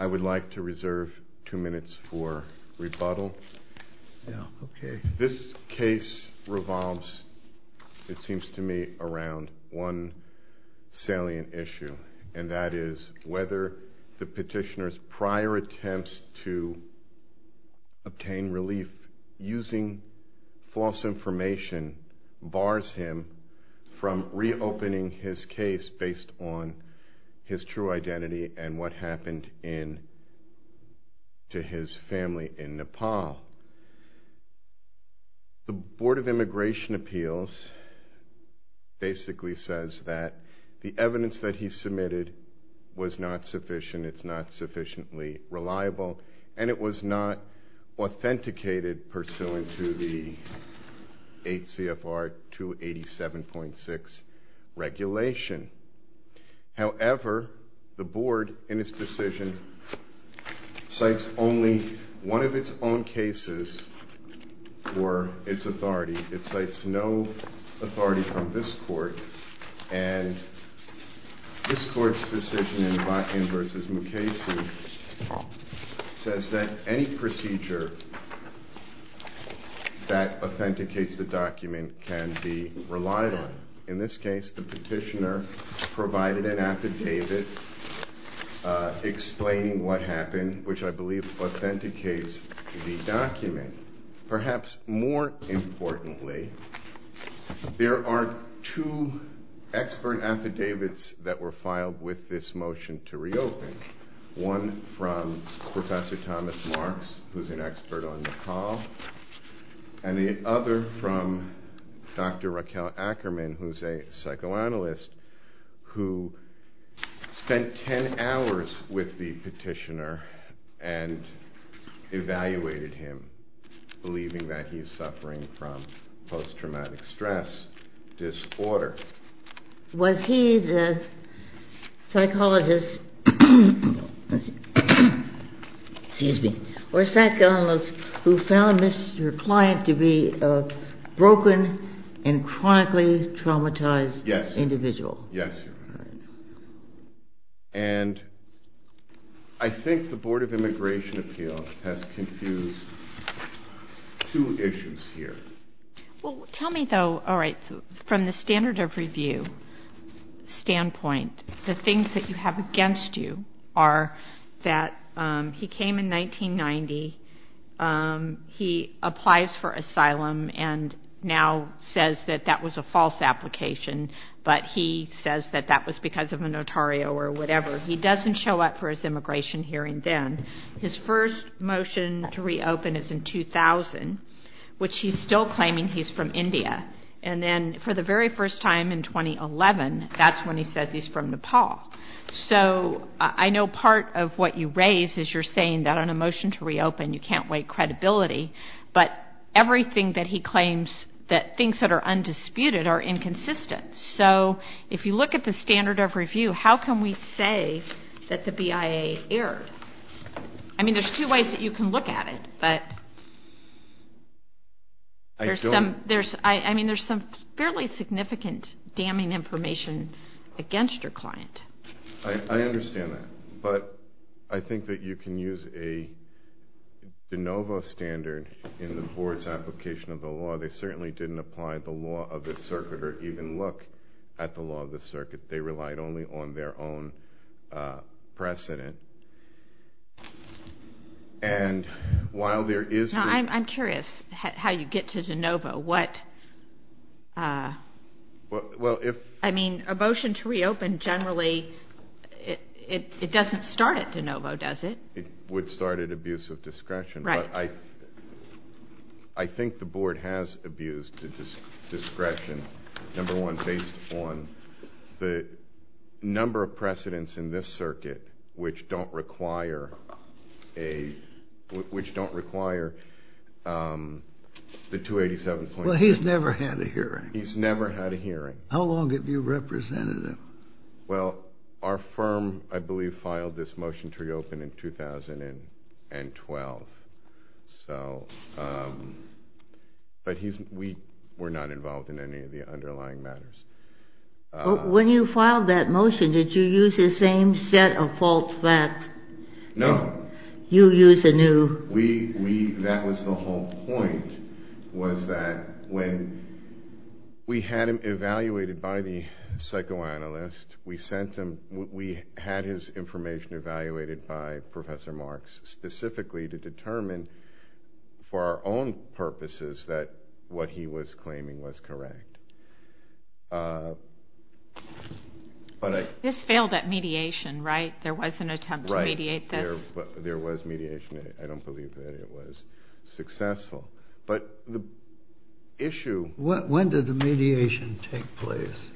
I would like to reserve two minutes for rebuttal. This case revolves, it seems to me, around one salient issue, and that is whether the petitioner's prior attempts to obtain relief using false information bars him from reopening his case based on his true identity and what happened to his family in Nepal. The Board of Immigration Appeals basically says that the evidence that he submitted was not sufficient, it's not sufficiently reliable, and it was not for its authority. It cites no authority from this Court, and this Court's decision in Bakken v. Mukesu says that any procedure that authenticates the document can be relied on. In this case, the petitioner provided an affidavit explaining what happened, which I believe authenticates the document. Perhaps more importantly, there are two expert affidavits that were filed with this motion to reopen. One from Professor Thomas Marks, who's an expert on Nepal, and the other from Dr. Raquel Ackerman, who's a psychoanalyst, who spent ten hours with the petitioner and evaluated him, believing that he's suffering from post-traumatic stress disorder. Was he the psychologist who found Mr. Klein to be a broken and chronically traumatized individual? Yes, Your Honor. And I think the Board of Immigration Appeals has confused two issues here. Well, tell me though, all right, from the standard of review standpoint, the things that you have against you are that he came in 1990, he applies for asylum, and now says that that was a false application, but he says that that was because of a notario or whatever. He doesn't show up for his immigration hearing then. His first motion to reopen is in 2000, which he's still claiming he's from India. And then for the very first time in 2011, that's when he says he's from Nepal. So I know part of what you raise is you're saying that on a motion to reopen, you can't weigh credibility, but everything that he claims that things that are undisputed are inconsistent. So if you look at the standard of review, how can we say that the BIA erred? I mean, there's two ways that you can look at it, but there's some fairly significant damning information against your client. I understand that, but I think that you can use a de novo standard in the Board's application of the law. They certainly didn't apply the law of this circuit or even look at the law of this circuit. They relied only on their own precedent. Now, I'm curious how you get to de novo. I mean, a motion to reopen generally, it doesn't start at de novo, does it? Right. I think the Board has abused discretion, number one, based on the number of precedents in this circuit which don't require the 287.2. Well, he's never had a hearing. He's never had a hearing. How long have you represented him? Well, our firm, I believe, filed this motion to reopen in 2012, but we were not involved in any of the underlying matters. When you filed that motion, did you use the same set of false facts? No. You used a new. That was the whole point, was that when we had him evaluated by the psychoanalyst, we had his information evaluated by Professor Marks specifically to determine for our own purposes that what he was claiming was correct. This failed at mediation, right? There was an attempt to mediate this. There was mediation. I don't believe that it was successful. But the issue. When did the mediation take place?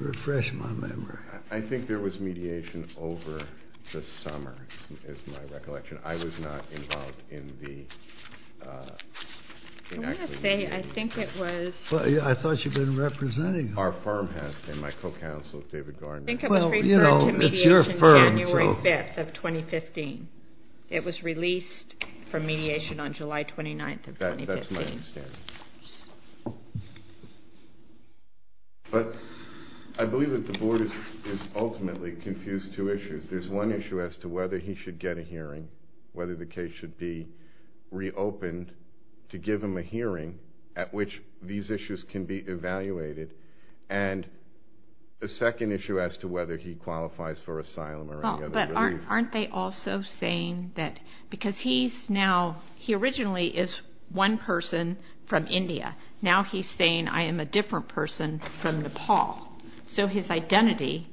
Refresh my memory. I think there was mediation over the summer, is my recollection. I was not involved in the... I want to say, I think it was... I thought you'd been representing him. Our firm has been. My co-counsel, David Garner. I think it was referred to mediation January 5th of 2015. It was released from mediation on July 29th of 2015. That's my understanding. But I believe that the board has ultimately confused two issues. There's one issue as to whether he should get a hearing, whether the case should be reopened to give him a hearing at which these issues can be evaluated. And a second issue as to whether he qualifies for asylum or any other relief. But aren't they also saying that because he's now... He originally is one person from India. Now he's saying, I am a different person from Nepal. So his identity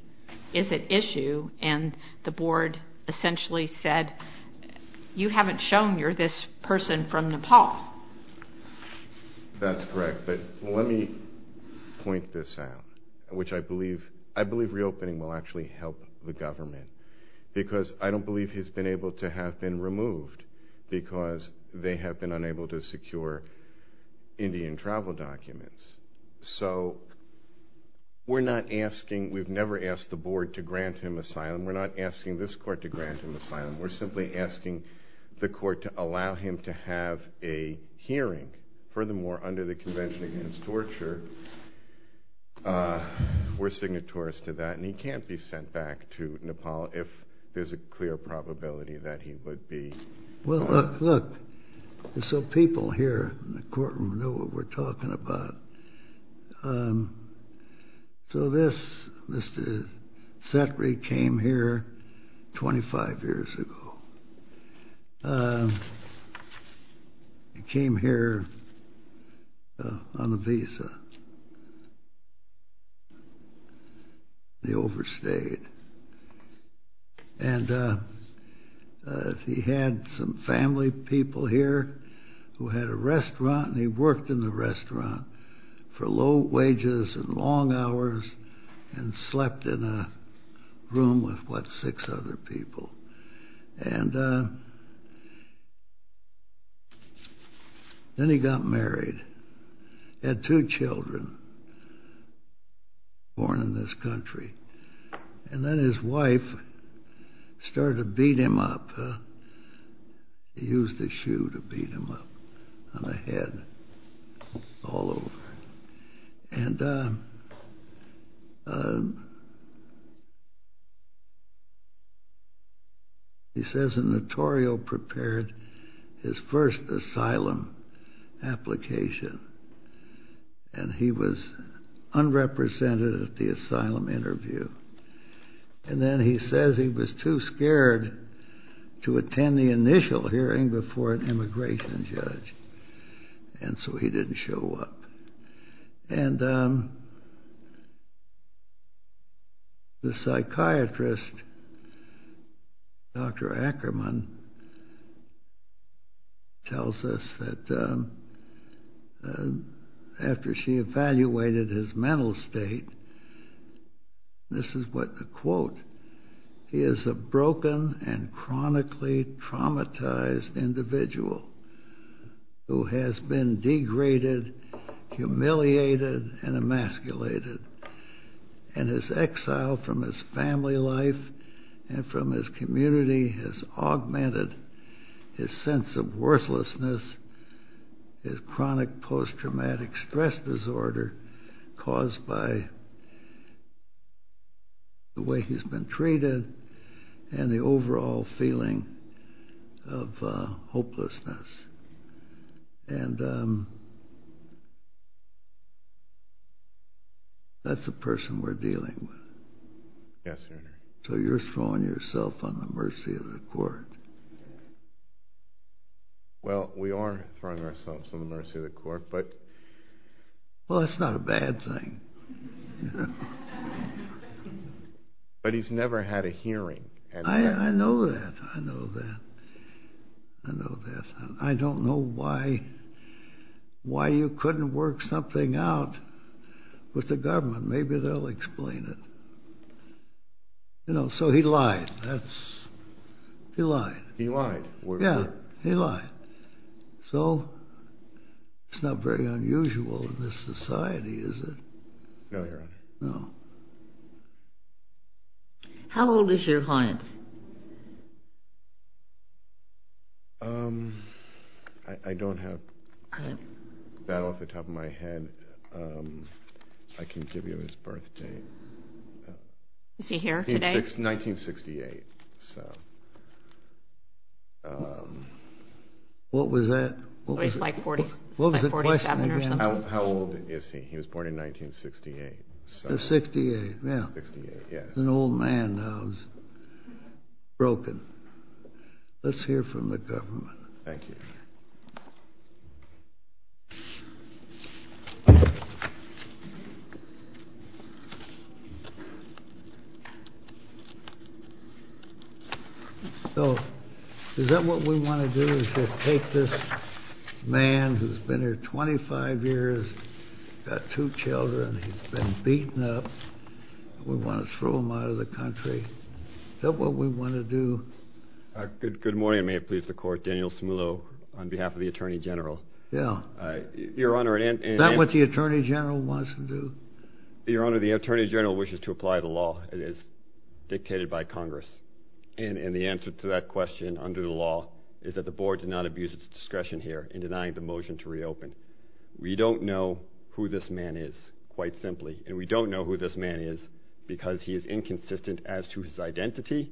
is at issue. And the board essentially said, you haven't shown you're this person from Nepal. That's correct. But let me point this out, which I believe reopening will actually help the government. Because I don't believe he's been able to have been removed because they have been unable to secure Indian travel documents. So we're not asking... We've never asked the board to grant him asylum. We're not asking this court to grant him asylum. We're simply asking the court to allow him to have a hearing. Furthermore, under the Convention Against Torture, we're signatorious to that. And he can't be sent back to Nepal if there's a clear probability that he would be... Well, look, so people here in the courtroom know what we're talking about. So this, Mr. Setri, came here 25 years ago. He came here on a visa. He overstayed. And he had some family people here who had a restaurant. And he worked in the restaurant for low wages and long hours and slept in a room with, what, six other people. And then he got married. He had two children born in this country. And then his wife started to beat him up. She used a shoe to beat him up on the head all over. And he says a notarial prepared his first asylum application. And he was unrepresented at the asylum interview. And then he says he was too scared to attend the initial hearing before an immigration judge. And so he didn't show up. And the psychiatrist, Dr. Ackerman, tells us that after she evaluated his mental state, this is what the quote, he is a broken and chronically traumatized individual who has been degraded, humiliated, and emasculated and has exiled from his family life and from his community, has augmented his sense of worthlessness, his chronic post-traumatic stress disorder caused by the way he's been treated, and the overall feeling of hopelessness. And that's the person we're dealing with. Yes, sir. So you're throwing yourself on the mercy of the court. Well, we are throwing ourselves on the mercy of the court, but... Well, that's not a bad thing. But he's never had a hearing. I know that. I know that. I know that. I don't know why you couldn't work something out with the government. Maybe they'll explain it. So he lied. He lied. He lied? Yeah, he lied. So it's not very unusual in this society, is it? No, Your Honor. No. How old is your client? I don't have that off the top of my head. I can give you his birth date. Is he here today? He's 1968. What was that? It's like 1947 or something. How old is he? He was born in 1968. 68, yeah. 68, yes. He's an old man now. He's broken. Let's hear from the government. Thank you. Thank you. So is that what we want to do, is just take this man who's been here 25 years, got two children, he's been beaten up, and we want to throw him out of the country? Is that what we want to do? Good morning. May it please the Court. Daniel Smullo on behalf of the Attorney General. Yeah. Your Honor, and... Is that what the Attorney General wants to do? Your Honor, the Attorney General wishes to apply the law. It is dictated by Congress. And the answer to that question under the law is that the Board did not abuse its discretion here in denying the motion to reopen. We don't know who this man is, quite simply. And we don't know who this man is because he is inconsistent as to his identity,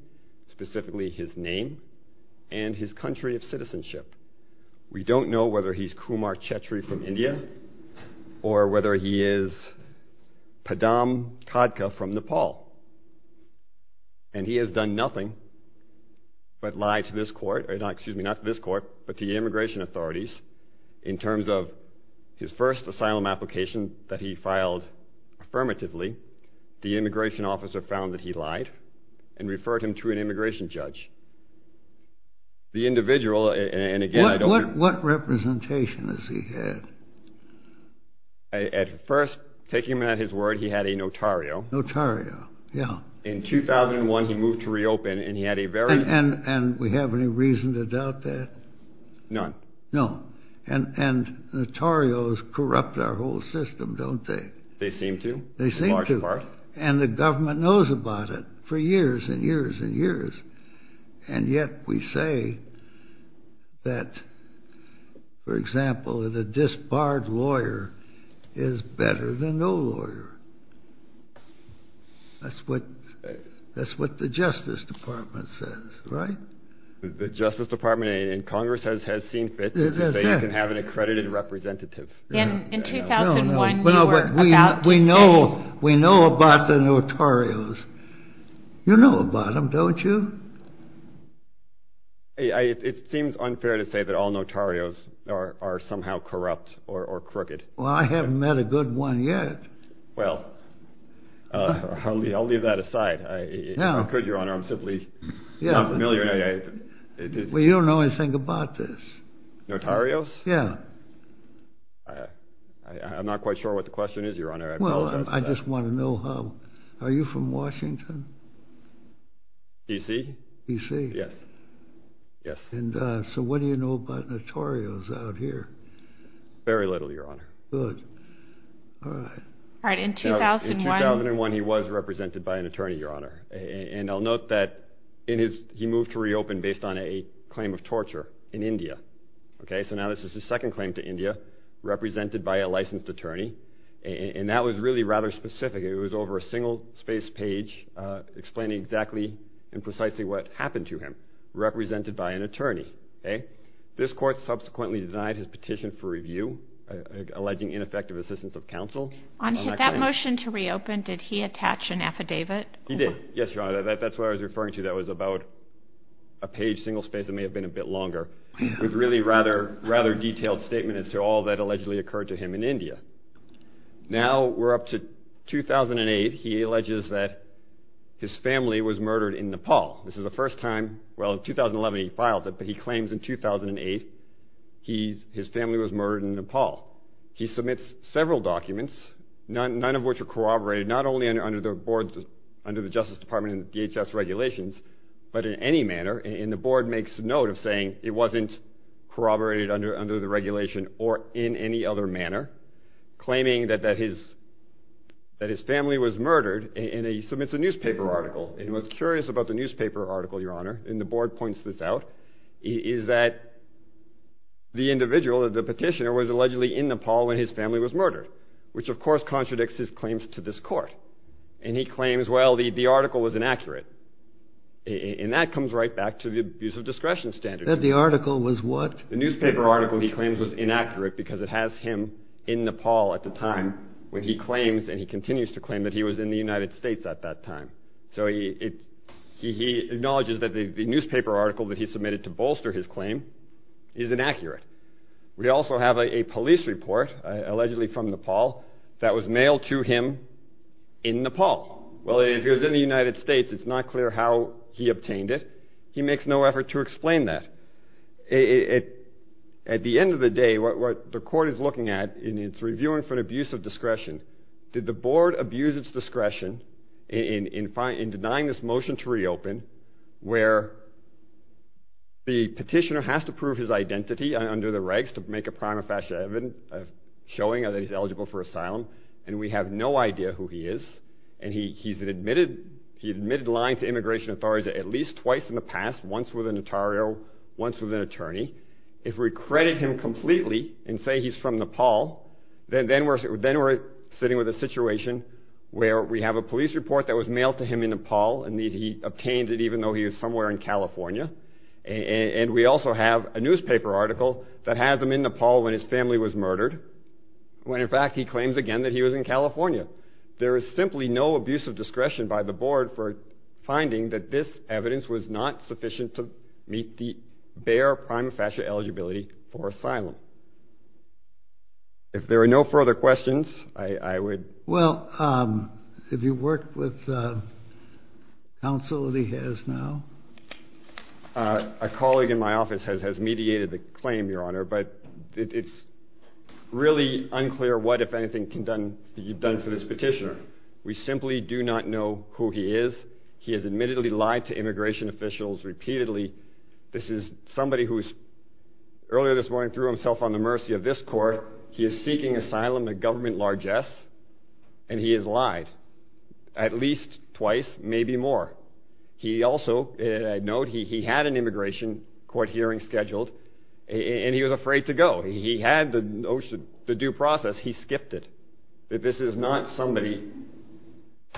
specifically his name, and his country of citizenship. We don't know whether he's Kumar Chetri from India or whether he is Padam Khadka from Nepal. And he has done nothing but lie to this Court, excuse me, not to this Court, but to the immigration authorities, in terms of his first asylum application that he filed affirmatively, the immigration officer found that he lied and referred him to an immigration judge. The individual, and again, I don't... What representation has he had? At first, taking him at his word, he had a notario. Notario, yeah. In 2001, he moved to reopen, and he had a very... And we have any reason to doubt that? None. No. And notarios corrupt our whole system, don't they? They seem to, in large part. And the government knows about it for years and years and years. And yet we say that, for example, that a disbarred lawyer is better than no lawyer. That's what the Justice Department says, right? The Justice Department and Congress has seen fit to say you can have an accredited representative. In 2001, you were about to say... We know about the notarios. You know about them, don't you? It seems unfair to say that all notarios are somehow corrupt or crooked. Well, I haven't met a good one yet. Well, I'll leave that aside. If I could, Your Honor, I'm simply not familiar. Well, you don't know anything about this. Notarios? Yeah. I'm not quite sure what the question is, Your Honor. I apologize for that. Well, I just want to know how... Are you from Washington? D.C.? D.C.? Yes. And so what do you know about notarios out here? Very little, Your Honor. Good. All right. All right, in 2001... In 2001, he was represented by an attorney, Your Honor. And I'll note that he moved to reopen based on a claim of torture in India. Okay? So now this is his second claim to India, represented by a licensed attorney. And that was really rather specific. It was over a single-space page explaining exactly and precisely what happened to him, represented by an attorney. Okay? This court subsequently denied his petition for review, alleging ineffective assistance of counsel. On that motion to reopen, did he attach an affidavit? He did. Yes, Your Honor. That's what I was referring to. That was about a page, single-space. It may have been a bit longer. It was really a rather detailed statement as to all that allegedly occurred to him in India. Now we're up to 2008. He alleges that his family was murdered in Nepal. This is the first time. Well, in 2011, he files it, but he claims in 2008 his family was murdered in Nepal. He submits several documents, none of which are corroborated, not only under the board's, under the Justice Department and DHS regulations, but in any manner. And the board makes note of saying it wasn't corroborated under the regulation or in any other manner, claiming that his family was murdered. And he submits a newspaper article. And what's curious about the newspaper article, Your Honor, and the board points this out, is that the individual, the petitioner, was allegedly in Nepal when his family was murdered, which of course contradicts his claims to this court. And he claims, well, the article was inaccurate. And that comes right back to the abuse of discretion standard. That the article was what? The newspaper article he claims was inaccurate because it has him in Nepal at the time when he claims, and he continues to claim, that he was in the United States at that time. So he acknowledges that the newspaper article that he submitted to bolster his claim is inaccurate. We also have a police report, allegedly from Nepal, that was mailed to him in Nepal. Well, if he was in the United States, it's not clear how he obtained it. He makes no effort to explain that. At the end of the day, what the court is looking at, and it's reviewing for an abuse of discretion, did the board abuse its discretion in denying this motion to reopen, where the petitioner has to prove his identity under the regs to make a prima facie evidence showing that he's eligible for asylum, and we have no idea who he is. And he's admitted lying to immigration authorities at least twice in the past, once with an attorney, once with an attorney. If we credit him completely and say he's from Nepal, then we're sitting with a situation where we have a police report that was mailed to him in Nepal, and he obtained it even though he was somewhere in California, and we also have a newspaper article that has him in Nepal when his family was murdered, when in fact he claims again that he was in California. There is simply no abuse of discretion by the board for finding that this evidence was not sufficient to meet the bare prima facie eligibility for asylum. If there are no further questions, I would... Well, have you worked with counsel that he has now? A colleague in my office has mediated the claim, Your Honor, but it's really unclear what, if anything, can be done for this petitioner. We simply do not know who he is. He has admittedly lied to immigration officials repeatedly. This is somebody who earlier this morning threw himself on the mercy of this court. He is seeking asylum, a government largesse, and he has lied at least twice, maybe more. He also, note, he had an immigration court hearing scheduled, and he was afraid to go. He had the notion, the due process, he skipped it. This is not somebody,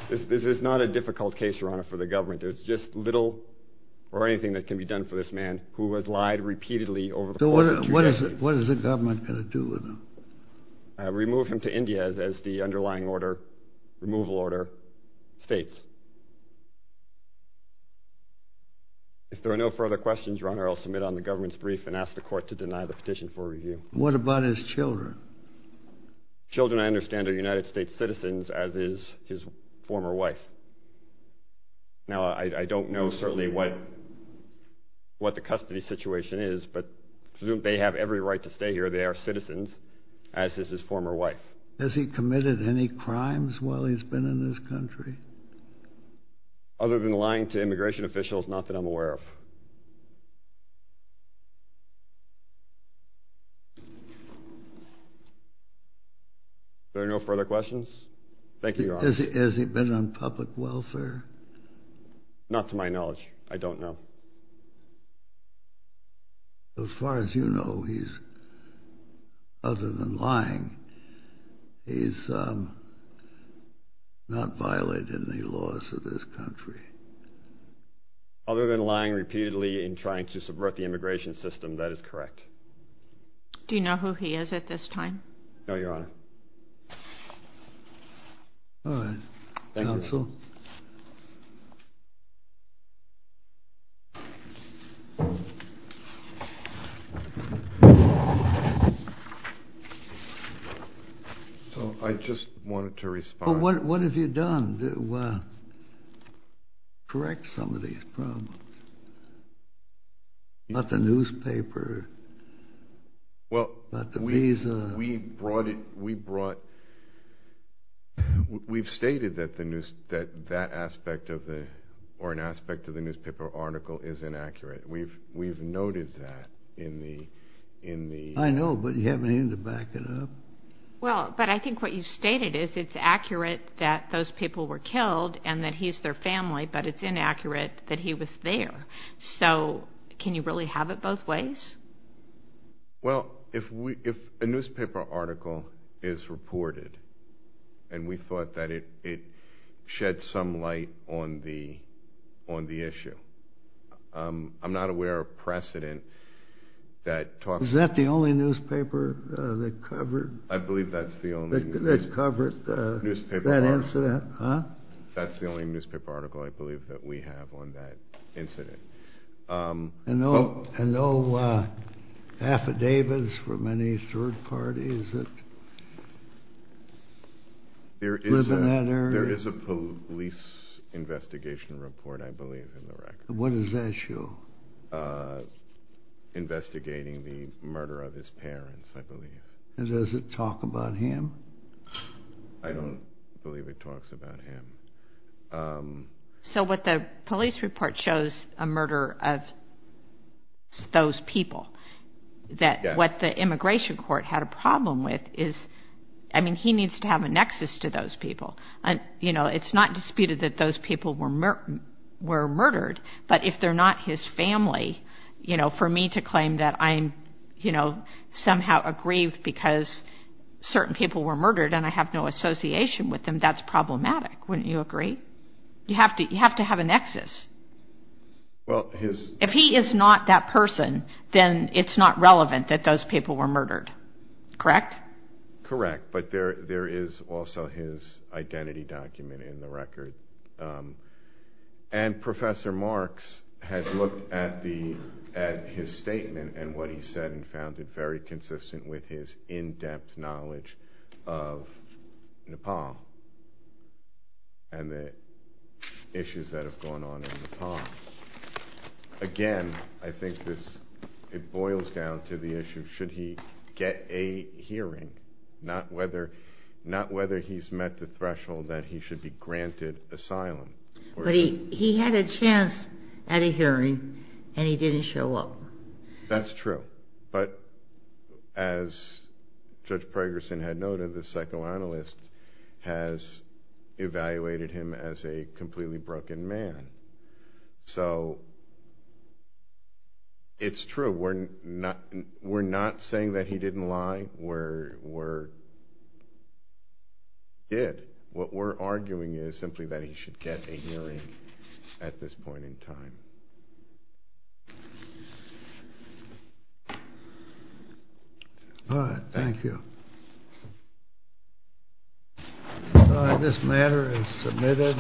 this is not a difficult case, Your Honor, for the government. There's just little or anything that can be done for this man who has lied repeatedly over the course of two days. What is the government going to do with him? Remove him to India, as the underlying order, removal order states. If there are no further questions, Your Honor, I'll submit on the government's brief and ask the court to deny the petition for review. What about his children? Children, I understand, are United States citizens, as is his former wife. Now, I don't know certainly what the custody situation is, but they have every right to stay here. They are citizens, as is his former wife. Has he committed any crimes while he's been in this country? Other than lying to immigration officials, not that I'm aware of. Are there no further questions? Thank you, Your Honor. Has he been on public welfare? Not to my knowledge. I don't know. As far as you know, other than lying, he's not violated any laws of this country. Other than lying repeatedly and trying to subvert the immigration system, that is correct. Do you know who he is at this time? No, Your Honor. All right. Thank you. Counsel? I just wanted to respond. What have you done to correct some of these problems? About the newspaper, about the visa? We've stated that that aspect or an aspect of the newspaper article is inaccurate. We've noted that in the— I know, but you haven't even to back it up. Well, but I think what you've stated is it's accurate that those people were killed and that he's their family, but it's inaccurate that he was there. So can you really have it both ways? Well, if a newspaper article is reported and we thought that it shed some light on the issue, I'm not aware of precedent that talks— Is that the only newspaper that covered that incident? That's the only newspaper article I believe that we have on that incident. And no affidavits from any third parties that live in that area? There is a police investigation report, I believe, in the record. What does that show? Investigating the murder of his parents, I believe. And does it talk about him? I don't believe it talks about him. So what the police report shows, a murder of those people, that what the immigration court had a problem with is— I mean, he needs to have a nexus to those people. It's not disputed that those people were murdered, but if they're not his family, for me to claim that I'm somehow aggrieved because certain people were murdered and I have no association with them, that's problematic, wouldn't you agree? You have to have a nexus. If he is not that person, then it's not relevant that those people were murdered. Correct? Correct, but there is also his identity document in the record. And Professor Marks had looked at his statement and what he said and found it very consistent with his in-depth knowledge of Nepal and the issues that have gone on in Nepal. Again, I think it boils down to the issue, should he get a hearing, not whether he's met the threshold that he should be granted asylum. But he had a chance at a hearing and he didn't show up. That's true, but as Judge Pragerson had noted, the psychoanalyst has evaluated him as a completely broken man. So it's true, we're not saying that he didn't lie, we're— All right, thank you. All right, this matter is submitted.